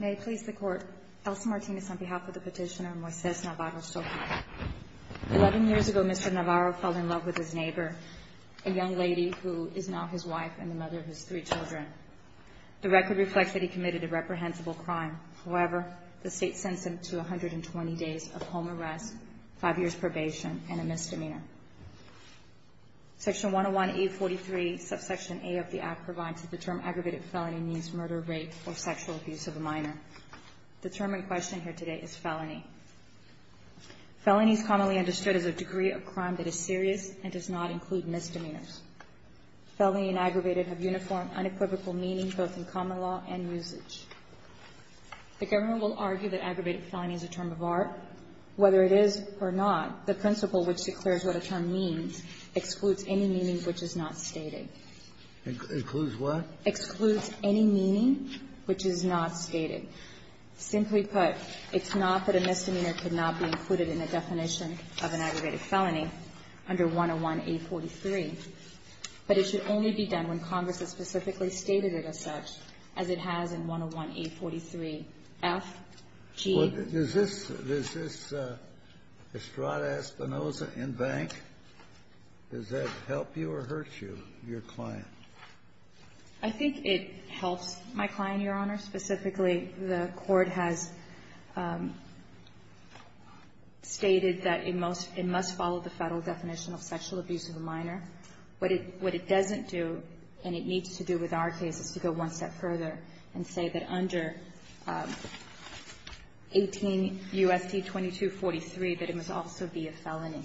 May I please the Court, Elsa Martinez on behalf of the petitioner Moises Navarro-Soqui. Eleven years ago, Mr. Navarro fell in love with his neighbor, a young lady who is now his wife and the mother of his three children. The record reflects that he committed a reprehensible crime. However, the state sends him to 120 days of home arrest, five years probation, and a misdemeanor. Section 101A.43, subsection A of the Act, provides that the term aggravated felony means murder, rape, or sexual abuse of a minor. The term in question here today is felony. Felony is commonly understood as a degree of crime that is serious and does not include misdemeanors. Felony and aggravated have uniform, unequivocal meaning both in common law and usage. The government will argue that aggravated felony is a term of art. But whether it is or not, the principle which declares what a term means excludes any meaning which is not stated. It includes what? Excludes any meaning which is not stated. Simply put, it's not that a misdemeanor could not be included in a definition of an aggravated felony under 101A.43. But it should only be done when Congress has specifically stated it as such, as it has in 101A.43. F, G. Is this Estrada Espinoza in bank? Does that help you or hurt you, your client? I think it helps my client, Your Honor. Specifically, the Court has stated that it must follow the Federal definition of sexual abuse of a minor. What it doesn't do, and it needs to do with our case, is to go one step further and say that under 18 U.S.C. 2243 that it must also be a felony.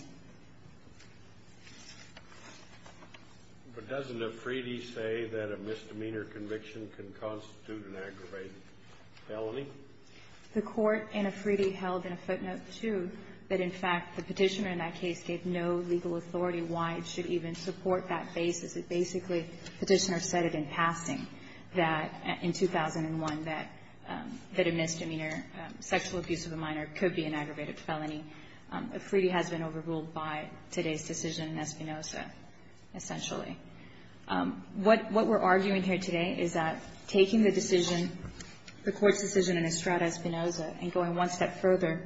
But doesn't Afridi say that a misdemeanor conviction can constitute an aggravated felony? The Court in Afridi held in a footnote, too, that in fact the Petitioner in that case gave no legal authority why it should even support that basis. It basically, Petitioner said it in passing that in 2001 that a misdemeanor, sexual abuse of a minor, could be an aggravated felony. Afridi has been overruled by today's decision in Espinoza, essentially. What we're arguing here today is that taking the decision, the Court's decision in Estrada Espinoza, and going one step further,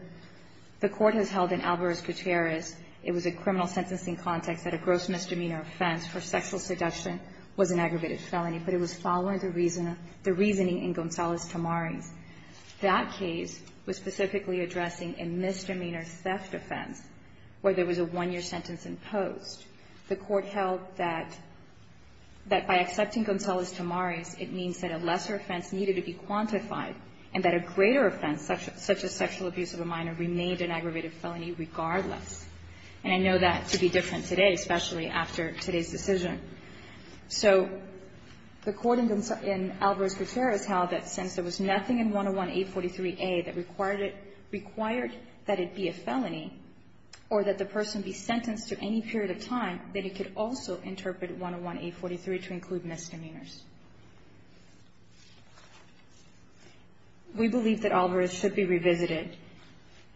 the Court has held in Alvarez-Gutierrez, it was a criminal sentencing context that a gross misdemeanor offense for sexual seduction was an aggravated felony, but it was following the reasoning in Gonzalez-Tamari's. That case was specifically addressing a misdemeanor theft offense where there was a one-year sentence imposed. The Court held that by accepting Gonzalez-Tamari's, it means that a lesser offense needed to be quantified and that a greater offense, such as sexual abuse of a minor, remained an aggravated felony regardless. And I know that to be different today, especially after today's decision. So the Court in Alvarez-Gutierrez held that since there was nothing in 101-843a that required it, required that it be a felony or that the person be sentenced to any period of time, that it could also interpret 101-843 to include misdemeanors. We believe that Alvarez should be revisited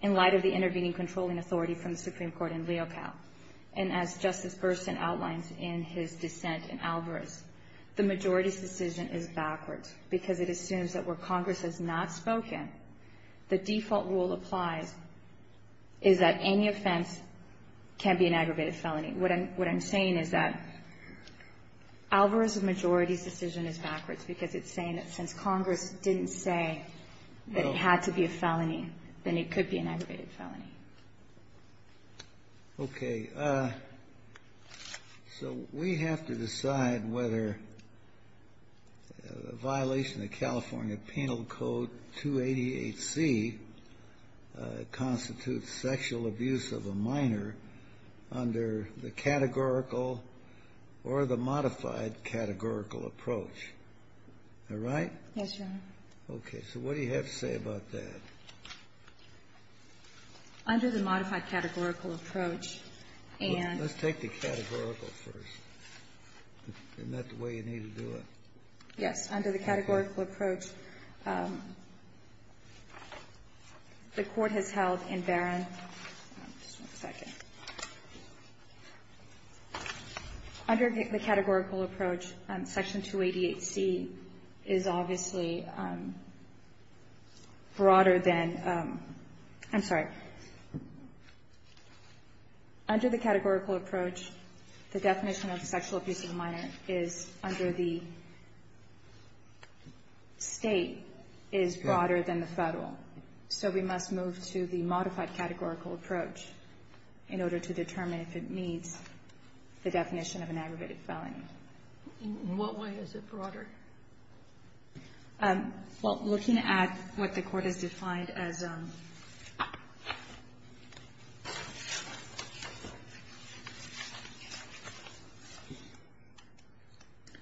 in light of the intervening controlling authority from the Supreme Court in Leocal. And as Justice Burson outlines in his dissent in Alvarez, the majority's decision is backwards because it assumes that where Congress has not can't be an aggravated felony. What I'm saying is that Alvarez's majority's decision is backwards because it's saying that since Congress didn't say that it had to be a felony, then it could be an aggravated felony. Okay. So we have to decide whether a violation of California Penal Code 288C constitutes sexual abuse of a minor under the categorical or the modified categorical approach. All right? Yes, Your Honor. Okay. So what do you have to say about that? Under the modified categorical approach, and Let's take the categorical first. Isn't that the way you need to do it? Yes. Under the categorical approach, the Court has held in Barron Just one second. Under the categorical approach, Section 288C is obviously broader than I'm sorry. Under the categorical approach, the definition of sexual abuse of a minor is under the state is broader than the federal. So we must move to the modified categorical approach in order to determine if it meets the definition of an aggravated felony. In what way is it broader? Well, looking at what the Court has defined as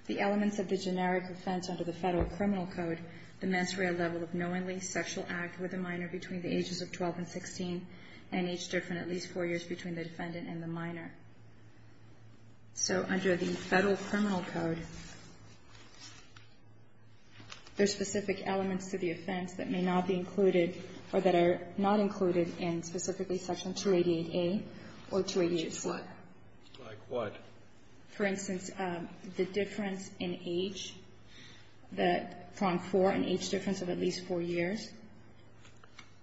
the elements of the generic offense under the Federal Criminal Code, the mens rea level of knowingly sexual act with a minor between the ages of 12 and 16 and each different at least four years between the defendant and the minor. So under the Federal Criminal Code, there's specific elements to the offense that may not be included or that are not included in specifically Section 288A or 288C. Like what? Like what? For instance, the difference in age, that from four and each difference of at least four years.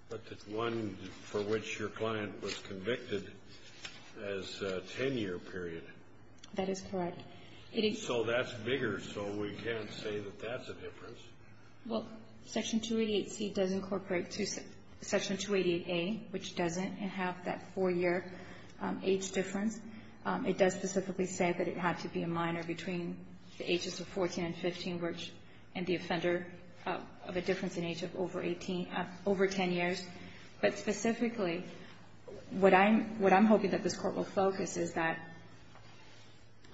But the one for which your client was convicted as a 10-year period. That is correct. So that's bigger, so we can't say that that's a difference. Well, Section 288C does incorporate Section 288A, which doesn't, and have that four-year age difference. It does specifically say that it had to be a minor between the ages of 14 and 15, which and the offender of a difference in age of over 18, over 10 years. But specifically, what I'm hoping that this Court will focus is that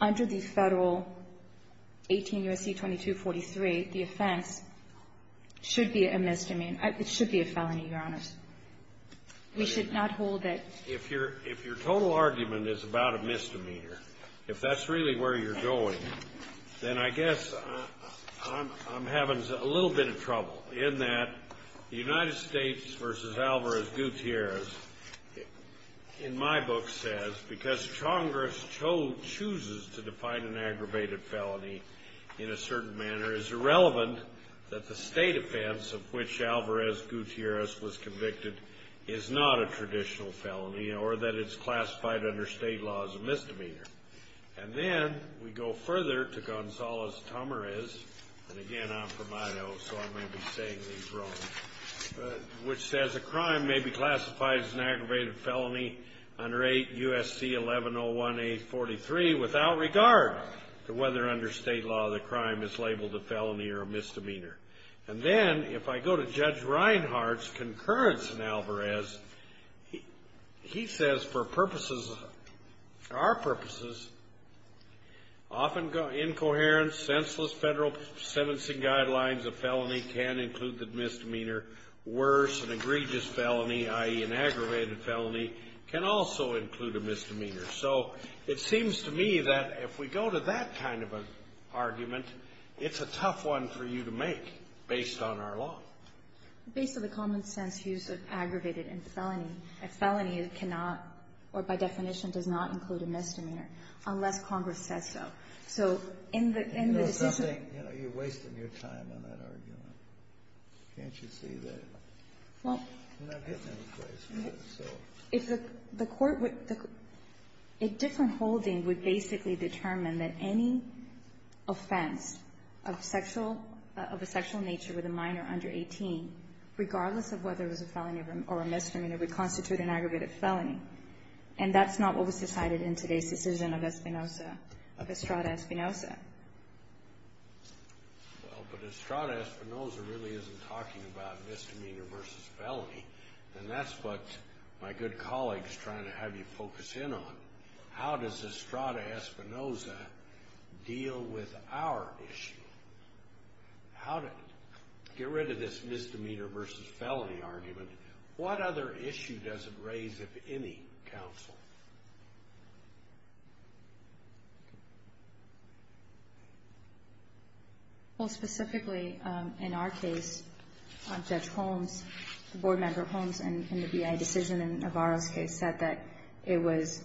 under the Federal 18 U.S.C. 2243, the offense should be a misdemeanor. It should be a felony, Your Honors. We should not hold it. If your total argument is about a misdemeanor, if that's really where you're going, then I guess I'm having a little bit of trouble. In that, the United States v. Alvarez-Gutierrez in my book says, because Congress chooses to define an aggravated felony in a certain manner, it's irrelevant that the state offense of which Alvarez-Gutierrez was convicted is not a traditional felony, or that it's classified under state law as a misdemeanor. And then we go further to Gonzales-Tamarez, and again, I'm from Idaho, so I may be saying these wrong, which says, a crime may be classified as an aggravated felony under 8 U.S.C. 1101-843 without regard to whether under state law the crime is labeled a felony or a misdemeanor. And then if I go to Judge Reinhardt's concurrence in Alvarez, he says for purposes, our purposes, often incoherent, senseless Federal sentencing guidelines of felony can include the misdemeanor. Worse, an egregious felony, i.e., an aggravated felony, can also include a misdemeanor. So it seems to me that if we go to that kind of an argument, it's a tough one for you to make based on our law. Based on the common sense use of aggravated and felony, a felony cannot, or by definition does not include a misdemeanor, unless Congress says so. So in the decision — You know something? You're wasting your time on that argument. Can't you see that? Well — You're not getting any place with it, so — If the court would — a different holding would basically determine that any offense of sexual — of a sexual nature with a minor under 18, regardless of whether it was a felony or a misdemeanor, would constitute an aggravated felony. And that's not what was decided in today's decision of Espinoza, of Estrada Espinoza. Well, but Estrada Espinoza really isn't talking about misdemeanor versus felony. And that's what my good colleague is trying to have you focus in on. How does Estrada Espinoza deal with our issue? How does — get rid of this misdemeanor versus felony argument. What other issue does it raise of any counsel? Well, specifically in our case, Judge Holmes, the board member Holmes, in the BIA decision in Navarro's case, said that it was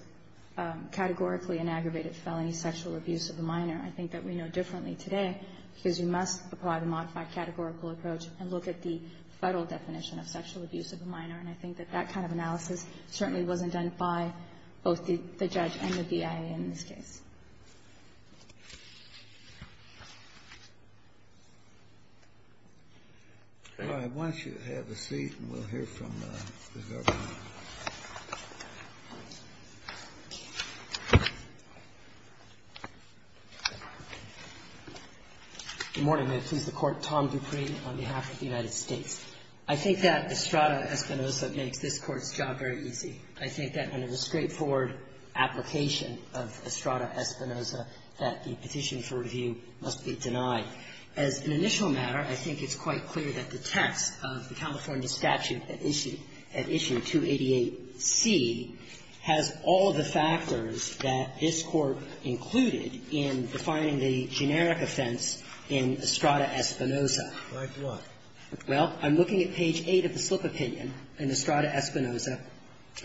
categorically an aggravated felony, sexual abuse of a minor. I think that we know differently today because we must apply the modified categorical approach and look at the Federal definition of sexual abuse of a minor. And I think that that kind of analysis certainly wasn't done by both the judge and the BIA in this case. All right. Why don't you have a seat and we'll hear from the government. Good morning. May it please the Court. Tom Dupree on behalf of the United States. I think that Estrada Espinoza makes this Court's job very easy. I think that under the straightforward application of Estrada Espinoza that the petition for review must be denied. As an initial matter, I think it's quite clear that the text of the California statute at issue, at issue 288C, has all of the factors that this Court included in defining the generic offense in Estrada Espinoza. By what? Well, I'm looking at page 8 of the slip opinion in Estrada Espinoza,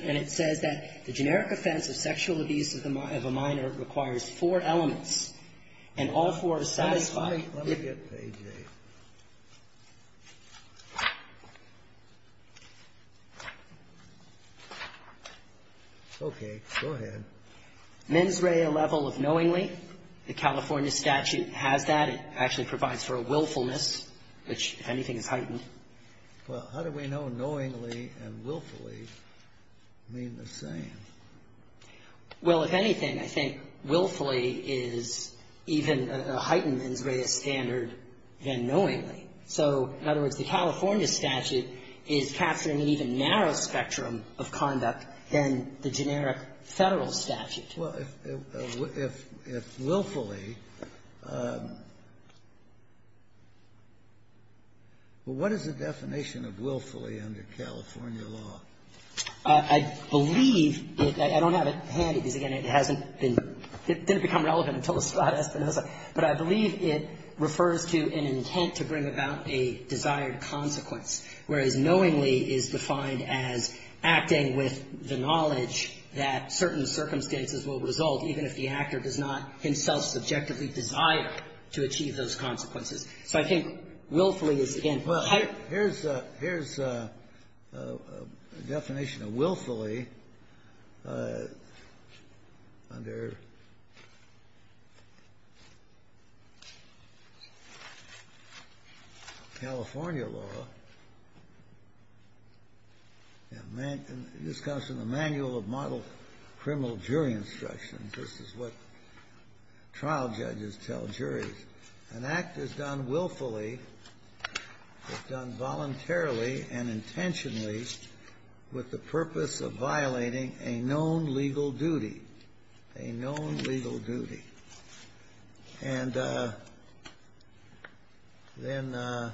and it says that the generic offense of sexual abuse of a minor requires four elements, and all four are satisfied. Let me get page 8. Okay. Go ahead. Mens rea level of knowingly. The California statute has that. It actually provides for a willfulness, which, if anything, is heightened. Well, how do we know knowingly and willfully mean the same? Well, if anything, I think willfully is even a heightened mens rea standard than knowingly. So, in other words, the California statute is capturing an even narrower spectrum of conduct than the generic Federal statute. Well, if willfully, what is the definition of willfully under California law? I believe it doesn't become relevant until Estrada Espinoza, but I believe it refers to an intent to bring about a desired consequence, whereas knowingly is defined as acting with the knowledge that certain circumstances will result even if the actor does not himself subjectively desire to achieve those consequences. So I think willfully is, again, heightened. Here's a definition of willfully under California law. This comes from the Manual of Model Criminal Jury Instructions. This is what trial judges tell juries. An act is done willfully, is done voluntarily and intentionally with the purpose of violating a known legal duty, a known legal duty. And then an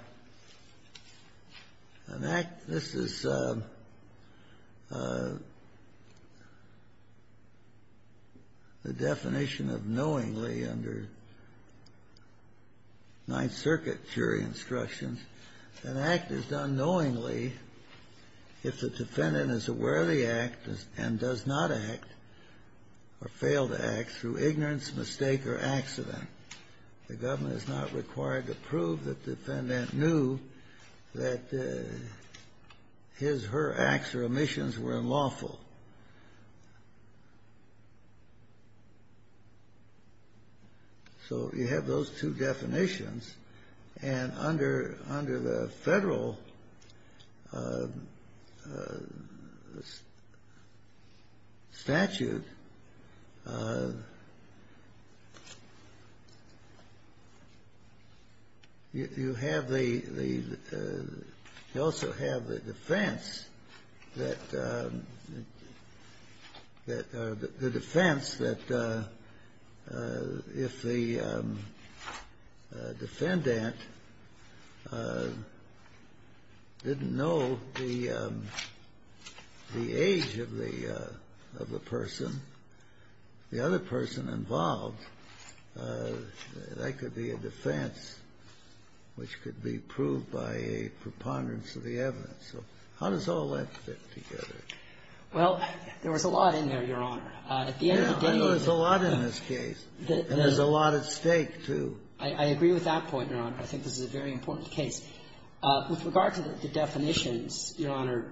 act, this is the definition of knowingly under Ninth Circuit jury instructions. An act is done knowingly if the defendant is aware of the act and does not act or failed the act through ignorance, mistake or accident. The government is not required to prove that defendant knew that his, her acts or omissions were unlawful. So you have those two definitions, and under the federal statute, you have the, you also have the defense that if the defendant didn't know the age of the person, the other person involved, that could be a defense which could be proved by a preponderance of the evidence. So how does all that fit together? Well, there was a lot in there, Your Honor. At the end of the day, there's a lot in this case. And there's a lot at stake, too. I agree with that point, Your Honor. I think this is a very important case. With regard to the definitions, Your Honor,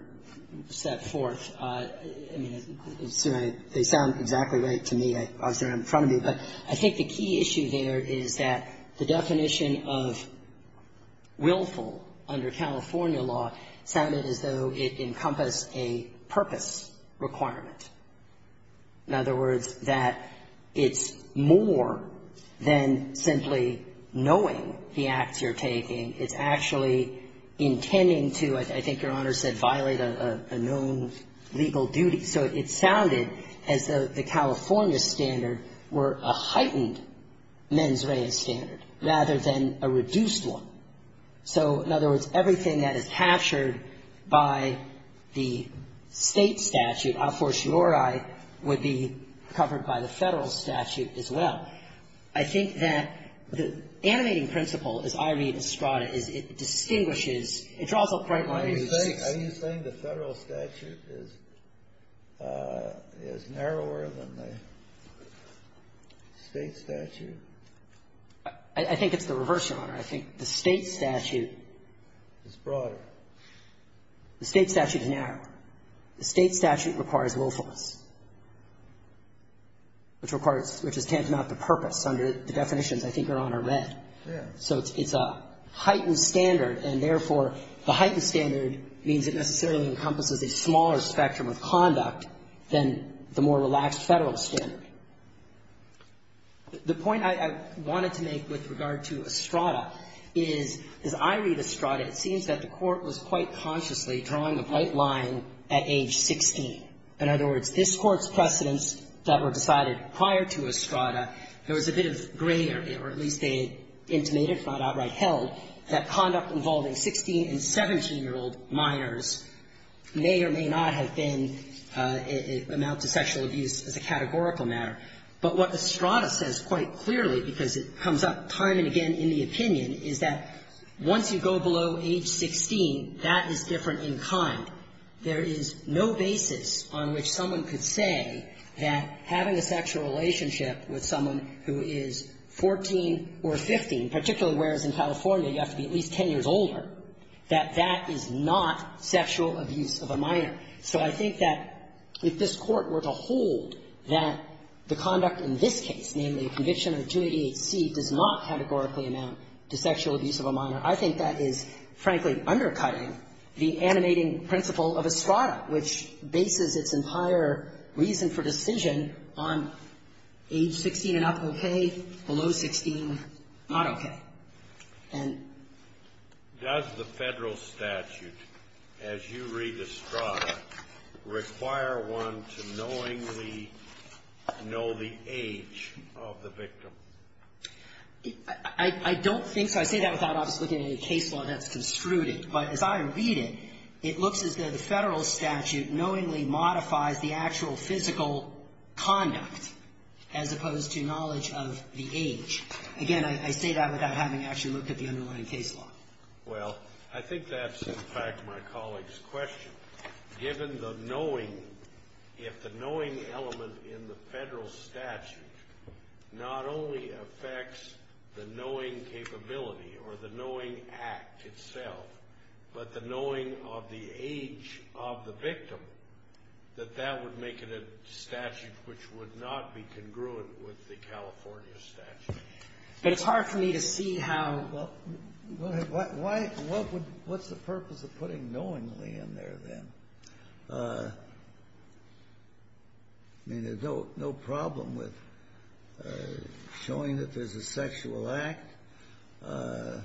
set forth, I mean, they sound exactly right to me. Obviously, they're in front of me. But I think the key issue there is that the definition of willful under California law sounded as though it encompassed a purpose requirement. In other words, that it's more than simply knowing the acts you're taking. It's actually intending to, I think Your Honor said, violate a known legal duty. So it sounded as though the California standard were a heightened mens rea standard rather than a reduced one. So, in other words, everything that is captured by the State statute, a fortiori, would be covered by the Federal statute as well. I think that the animating principle, as I read Estrada, is it distinguishes It's also quite like Are you saying the Federal statute is narrower than the State statute? I think it's the reverse, Your Honor. I think the State statute Is broader. The State statute is narrower. The State statute requires willfulness, which requires, which is tantamount to purpose under the definitions I think Your Honor read. Yes. So it's a heightened standard, and therefore, the heightened standard means it necessarily encompasses a smaller spectrum of conduct than the more relaxed Federal standard. The point I wanted to make with regard to Estrada is, as I read Estrada, it seems that the Court was quite consciously drawing the white line at age 16. In other words, this Court's precedents that were decided prior to Estrada, there at least they intimated, if not outright held, that conduct involving 16- and 17-year-old minors may or may not have been an amount to sexual abuse as a categorical matter. But what Estrada says quite clearly, because it comes up time and again in the opinion, is that once you go below age 16, that is different in kind. There is no basis on which someone could say that having a sexual relationship with someone who is 14 or 15, particularly whereas in California you have to be at least 10 years older, that that is not sexual abuse of a minor. So I think that if this Court were to hold that the conduct in this case, namely a conviction under 288C, does not categorically amount to sexual abuse of a minor, I think that is, frankly, undercutting the animating principle of Estrada, which is age 16 and up, okay, below 16, not okay. And ---- Kennedy. Does the Federal statute, as you read Estrada, require one to knowingly know the age of the victim? I don't think so. I say that without obviously looking at any case law that's construed it. But as I read it, it looks as though the Federal statute knowingly modifies the actual physical conduct as opposed to knowledge of the age. Again, I say that without having actually looked at the underlying case law. Well, I think that's, in fact, my colleague's question. Given the knowing, if the knowing element in the Federal statute not only affects the knowing capability or the knowing act itself, but the knowing of the age of the victim, that that would make it a statute which would not be congruent with the California statute. But it's hard for me to see how ---- What's the purpose of putting knowingly in there then? I mean, there's no problem with showing that there's a sexual act. And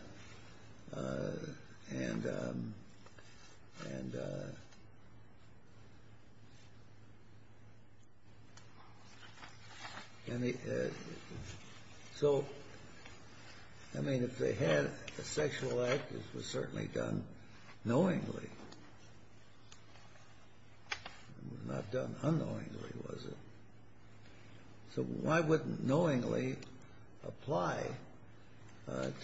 so, I mean, if they had a sexual act, it was certainly done knowingly. It was not done unknowingly, was it? So why wouldn't knowingly apply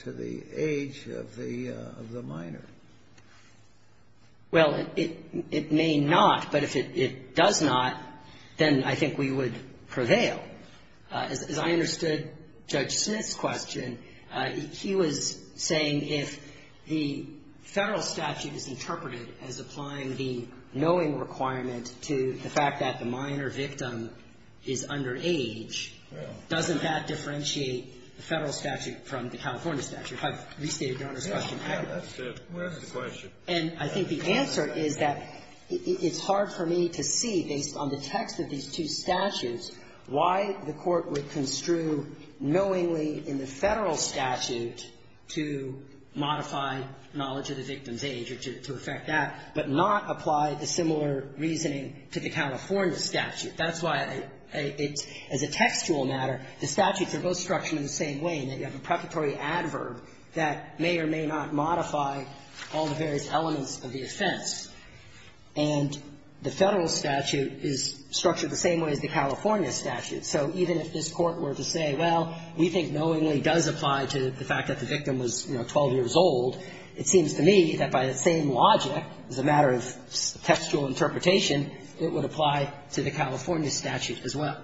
to the age of the minor? Well, it may not. But if it does not, then I think we would prevail. As I understood Judge Smith's question, he was saying if the Federal statute is interpreted as applying the knowing requirement to the fact that the minor victim is under age, doesn't that differentiate the Federal statute from the California statute? If I've restated Your Honor's question. Yes. That's a good question. And I think the answer is that it's hard for me to see, based on the text of these two statutes, why the Court would construe knowingly in the Federal statute to modify knowledge of the victim's age or to affect that, but not apply the similar reasoning to the California statute. That's why it's, as a textual matter, the statutes are both structured in the same way in that you have a preparatory adverb that may or may not modify all the various elements of the offense. And the Federal statute is structured the same way as the California statute. So even if this Court were to say, well, we think knowingly does apply to the fact that the victim was, you know, 12 years old, it seems to me that by the same logic, as a matter of textual interpretation, it would apply to the California statute as well.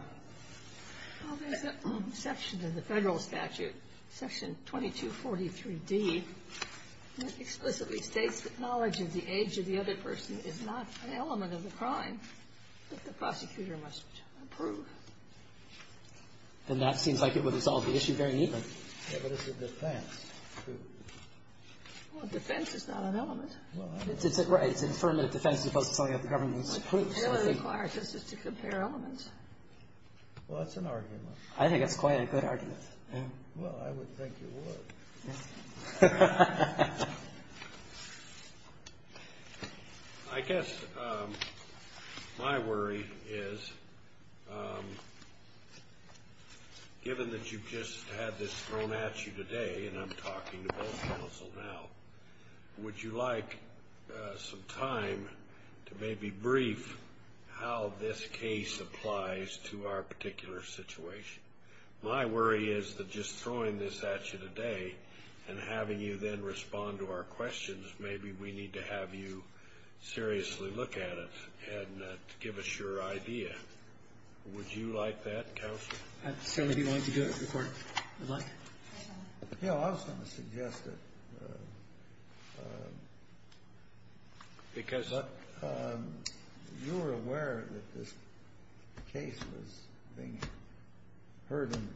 Well, there's a section in the Federal statute, section 2243d, that explicitly states that knowledge of the age of the other person is not an element of the crime that the prosecutor must approve. Then that seems like it would resolve the issue very neatly. Yeah, but it's a defense, too. Well, defense is not an element. Well, I don't know. Right. It's an affirmative defense as opposed to something that the government approves. It really requires us just to compare elements. Well, that's an argument. I think that's quite a good argument. Well, I would think you would. I guess my worry is, given that you've just had this thrown at you today, and I'm talking to both counsel now, would you like some time to maybe brief how this case applies to our particular situation? My worry is that just throwing this at you today and having you then respond to our questions, maybe we need to have you seriously look at it and give us your idea. Would you like that, counsel? I'd certainly be willing to do it, Your Honor. I'd like it. You know, I was going to suggest that because you were aware that this case was being heard and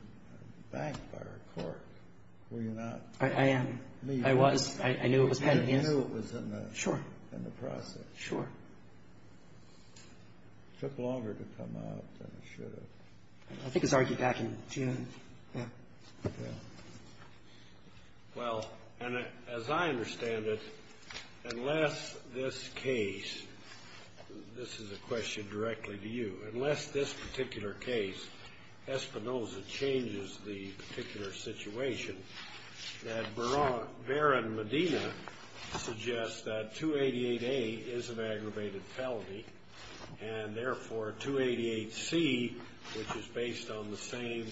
banked by our court, were you not? I am. I was. I knew it was pending. You knew it was in the process. Sure. It took longer to come out than it should have. I think it was argued back in June. Yeah. Well, and as I understand it, unless this case, this is a question directly to you, unless this particular case, Espinoza, changes the particular situation, that Baron Medina suggests that 288A is an aggravated felony, and therefore 288C, which is based on the same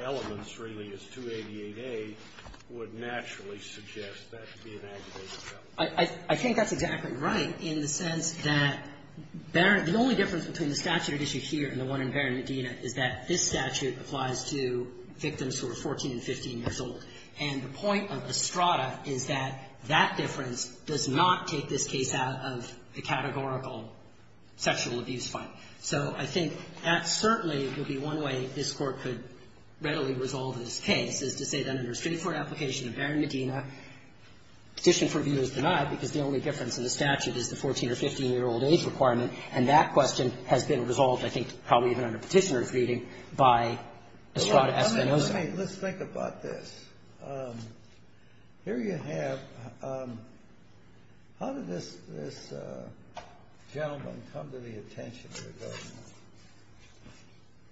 elements, really, as 288A, would naturally suggest that to be an aggravated felony. I think that's exactly right in the sense that the only difference between the statute at issue here and the one in Baron Medina is that this statute applies to victims who are 14 and 15 years old. And the point of Estrada is that that difference does not take this case out of the sexual abuse file. So I think that certainly would be one way this Court could readily resolve this case, is to say that under a straightforward application of Baron Medina, petition for review is denied because the only difference in the statute is the 14 or 15-year-old age requirement, and that question has been resolved, I think, probably even under Petitioner's reading, by Estrada Espinoza. Let's think about this. Here you have how did this gentleman come to the attention of the government?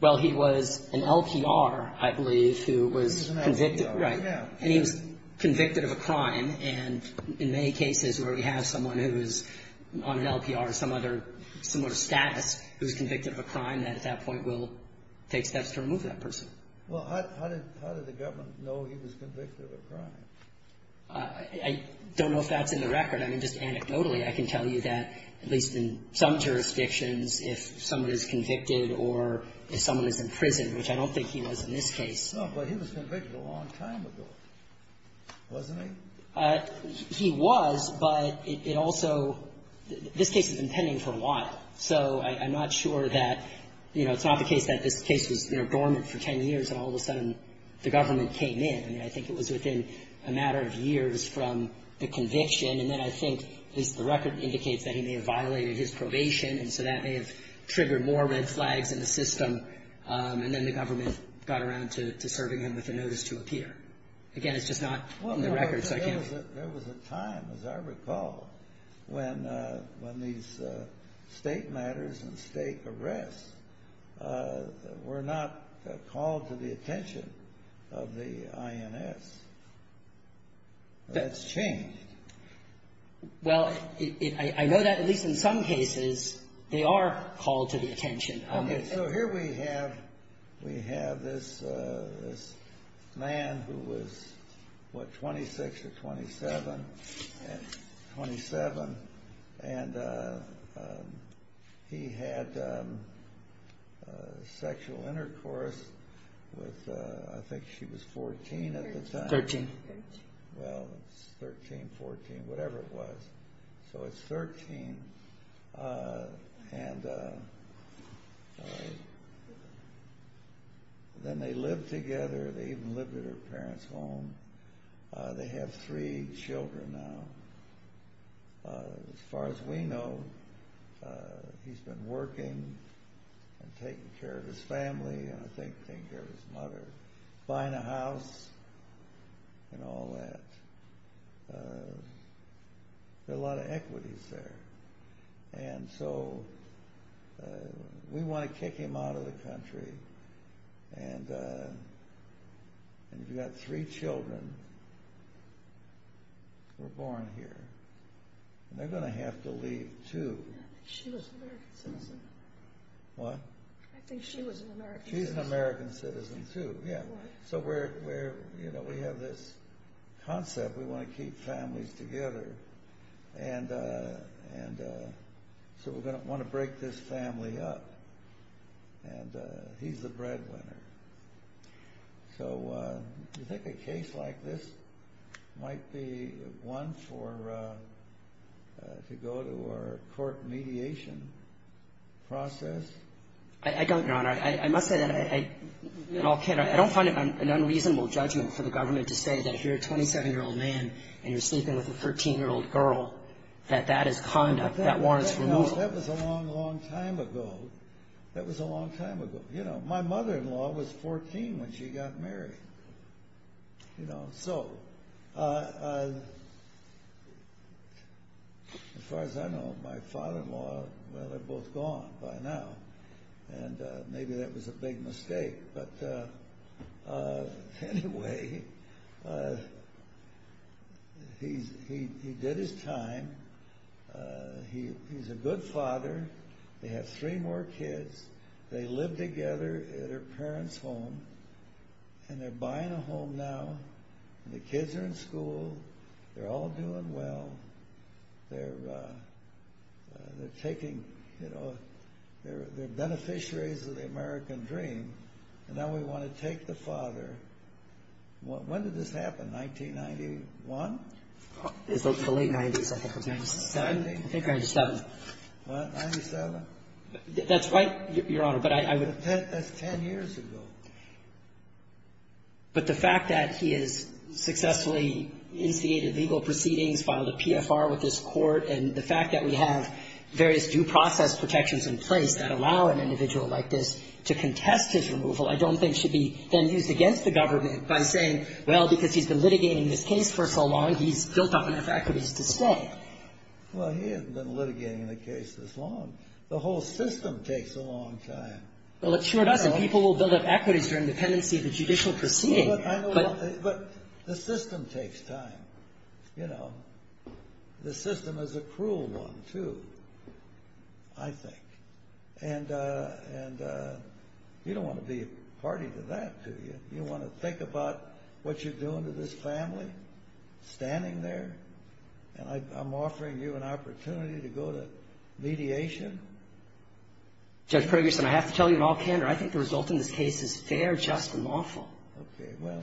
Well, he was an LPR, I believe, who was convicted. He was an LPR. Right. And he was convicted of a crime, and in many cases where we have someone who is on an LPR or some other similar status who is convicted of a crime, that at that point will take steps to remove that person. Well, how did the government know he was convicted of a crime? I don't know if that's in the record. I mean, just anecdotally, I can tell you that, at least in some jurisdictions, if someone is convicted or if someone is in prison, which I don't think he was in this case. No, but he was convicted a long time ago, wasn't he? He was, but it also this case has been pending for a while. So I'm not sure that, you know, it's not the case that this case was, you know, dormant for 10 years, and all of a sudden the government came in. I mean, I think it was within a matter of years from the conviction, and then I think at least the record indicates that he may have violated his probation, and so that may have triggered more red flags in the system, and then the government got around to serving him with a notice to appear. Again, it's just not in the record, so I can't. There was a time, as I recall, when these state matters and state arrests were not called to the attention of the INS. That's changed. Well, I know that at least in some cases they are called to the attention. Okay, so here we have this man who was, what, 26 or 27, and he had sexual intercourse with I think she was 14 at the time. 13. Well, it's 13, 14, whatever it was. So it's 13, and then they lived together. They even lived at her parents' home. They have three children now. As far as we know, he's been working and taking care of his family, and I think taking care of his mother, buying a house, and all that. There are a lot of equities there, and so we want to kick him out of the country, and you've got three children who were born here, and they're going to have to leave too. She was an American citizen. What? I think she was an American citizen. She's an American citizen too, yeah. So we have this concept. We want to keep families together, and so we're going to want to break this family up, and he's the breadwinner. So do you think a case like this might be one to go to a court mediation process? I don't, Your Honor. I must say that I don't find it an unreasonable judgment for the government to say that if you're a 27-year-old man and you're sleeping with a 13-year-old girl, that that is conduct that warrants removal. No, that was a long, long time ago. That was a long time ago. My mother-in-law was 14 when she got married. So as far as I know, my father-in-law, well, they're both gone by now, and maybe that was a big mistake, but anyway, he did his time. He's a good father. They have three more kids. They live together at their parents' home, and they're buying a home now, and the kids are in school. They're all doing well. They're beneficiaries of the American dream, and now we want to take the father. When did this happen? 1991? It was the late 90s. I think it was 1997. What? 1997? That's right, Your Honor, but I would — That's 10 years ago. But the fact that he has successfully instigated legal proceedings, filed a PFR with this court, and the fact that we have various due process protections in place that allow an individual like this to contest his removal I don't think should be then used against the government by saying, well, because he's been litigating this case for so long, he's built up enough equities to stay. Well, he hasn't been litigating the case this long. The whole system takes a long time. Well, it sure does, and people will build up equities during the pendency of the judicial proceeding. But the system takes time. The system is a cruel one, too, I think. And you don't want to be a party to that, do you? You want to think about what you're doing to this family, standing there? And I'm offering you an opportunity to go to mediation? Judge Pergerson, I have to tell you in all candor, I think the result in this case is fair, just, and lawful. Okay. Well,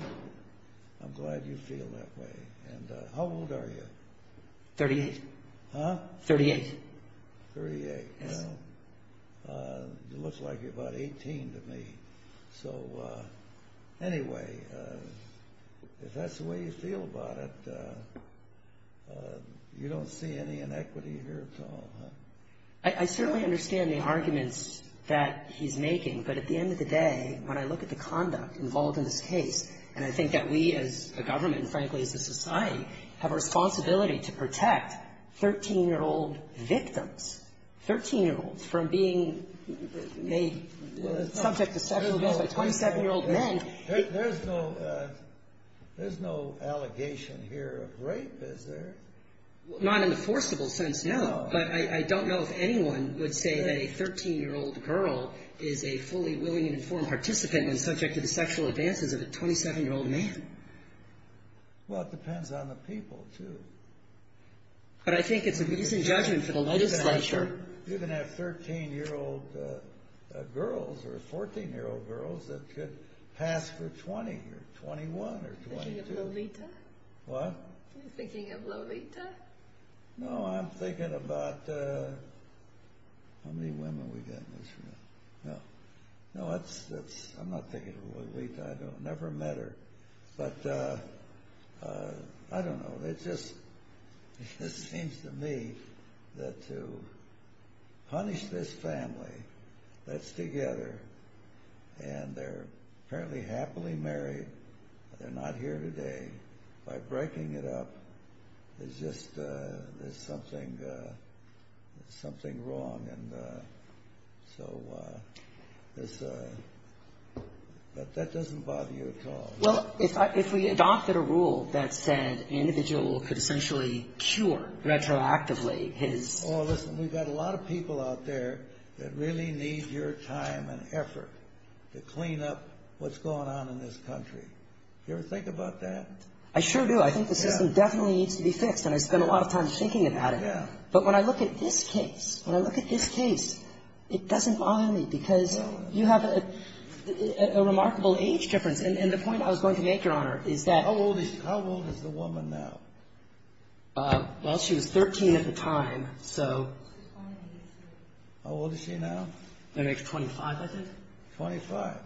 I'm glad you feel that way. And how old are you? Thirty-eight. Huh? Thirty-eight. Thirty-eight. Yes. Well, it looks like you're about 18 to me. So, anyway, if that's the way you feel about it, you don't see any inequity here at all, huh? I certainly understand the arguments that he's making, but at the end of the day, when I look at the conduct involved in this case, and I think that we as a government, and frankly, as a society, have a responsibility to protect 13-year-old victims, 13-year-olds from being made subject to sexual abuse by 27-year-old men. There's no allegation here of rape, is there? Not in the forcible sense, no. But I don't know if anyone would say that a 13-year-old girl is a fully willing and informed participant and subject to the sexual advances of a 27-year-old man. Well, it depends on the people, too. But I think it's a decent judgment for the legislature. You can have 13-year-old girls or 14-year-old girls that could pass for 20 or 21 or 22. Are you thinking of Lolita? What? Are you thinking of Lolita? No, I'm thinking about, how many women we got in this room? No. No, I'm not thinking of Lolita. I never met her. But I don't know. It just seems to me that to punish this family that's together, and they're apparently happily married, but they're not here today, by breaking it up, there's just something wrong. And so that doesn't bother you at all. Well, if we adopted a rule that said an individual could essentially cure retroactively his… Oh, listen, we've got a lot of people out there that really need your time and effort to clean up what's going on in this country. Do you ever think about that? I sure do. I think the system definitely needs to be fixed, and I spend a lot of time thinking about it. Yeah. But when I look at this case, when I look at this case, it doesn't bother me, because you have a remarkable age difference. And the point I was going to make, Your Honor, is that… How old is the woman now? Well, she was 13 at the time, so… How old is she now? I think she's 25, I think. 25.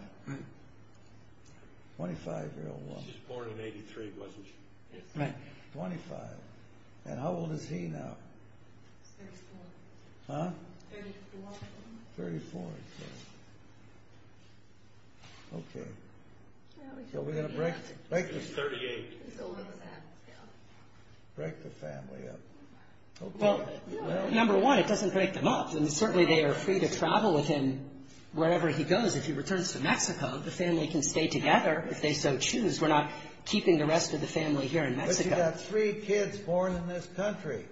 25-year-old woman. She was born in 83, wasn't she? Right. 25. And how old is he now? He's 34. Huh? 34. 34, okay. Okay. So we're going to break… He's 38. Break the family up. Well, number one, it doesn't break them up. And certainly they are free to travel with him wherever he goes. If he returns to Mexico, the family can stay together if they so choose. We're not keeping the rest of the family here in Mexico. But you've got three kids born in this country.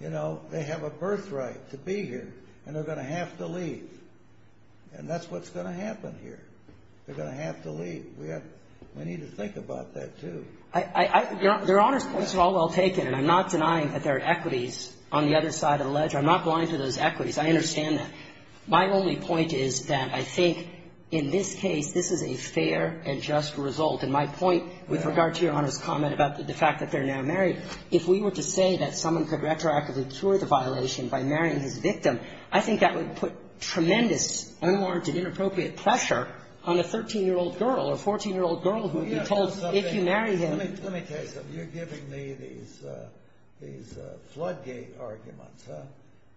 You know, they have a birthright to be here, and they're going to have to leave. And that's what's going to happen here. They're going to have to leave. We need to think about that, too. Your Honor's points are all well taken, and I'm not denying that there are equities on the other side of the ledge. I'm not going to those equities. I understand that. My only point is that I think in this case, this is a fair and just result. And my point with regard to Your Honor's comment about the fact that they're now married, if we were to say that someone could retroactively cure the violation by marrying his victim, I think that would put tremendous, unwarranted, inappropriate pressure on a 13-year-old girl or 14-year-old girl who would be told if you marry him… Let me tell you something. You're giving me these floodgate arguments, huh?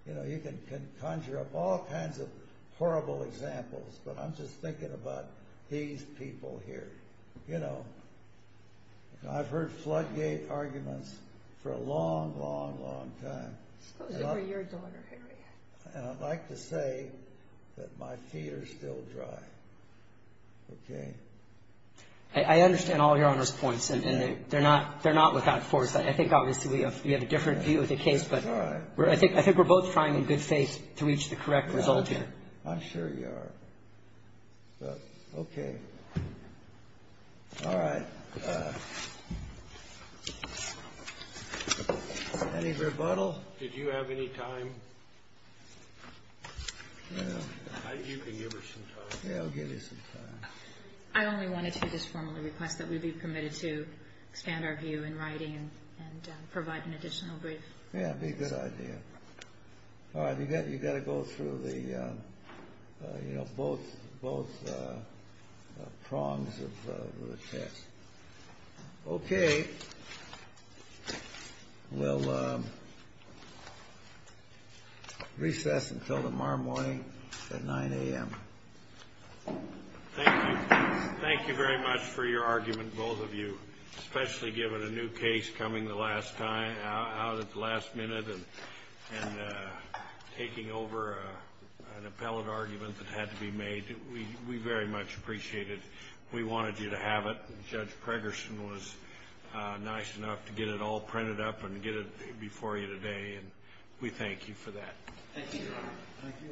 You know, you can conjure up all kinds of horrible examples, but I'm just thinking about these people here. You know, I've heard floodgate arguments for a long, long, long time. Supposed to be your daughter, Harry. And I'd like to say that my feet are still dry. Okay? I understand all Your Honor's points, and they're not without force. I think obviously we have a different view of the case. But I think we're both trying in good faith to reach the correct result here. I'm sure you are. Okay. All right. Any rebuttal? Did you have any time? I think you can give her some time. Yeah, I'll give you some time. I only wanted to just formally request that we be permitted to expand our view in writing and provide an additional brief. Yeah, that'd be a good idea. All right. You've got to go through the, you know, both prongs of the text. Okay. We'll recess until tomorrow morning at 9 a.m. Thank you. Thank you very much for your argument, both of you, especially given a new case coming out at the last minute and taking over an appellate argument that had to be made. We very much appreciate it. We wanted you to have it. Judge Preggerson was nice enough to get it all printed up and get it before you today. And we thank you for that. Thank you. Thank you.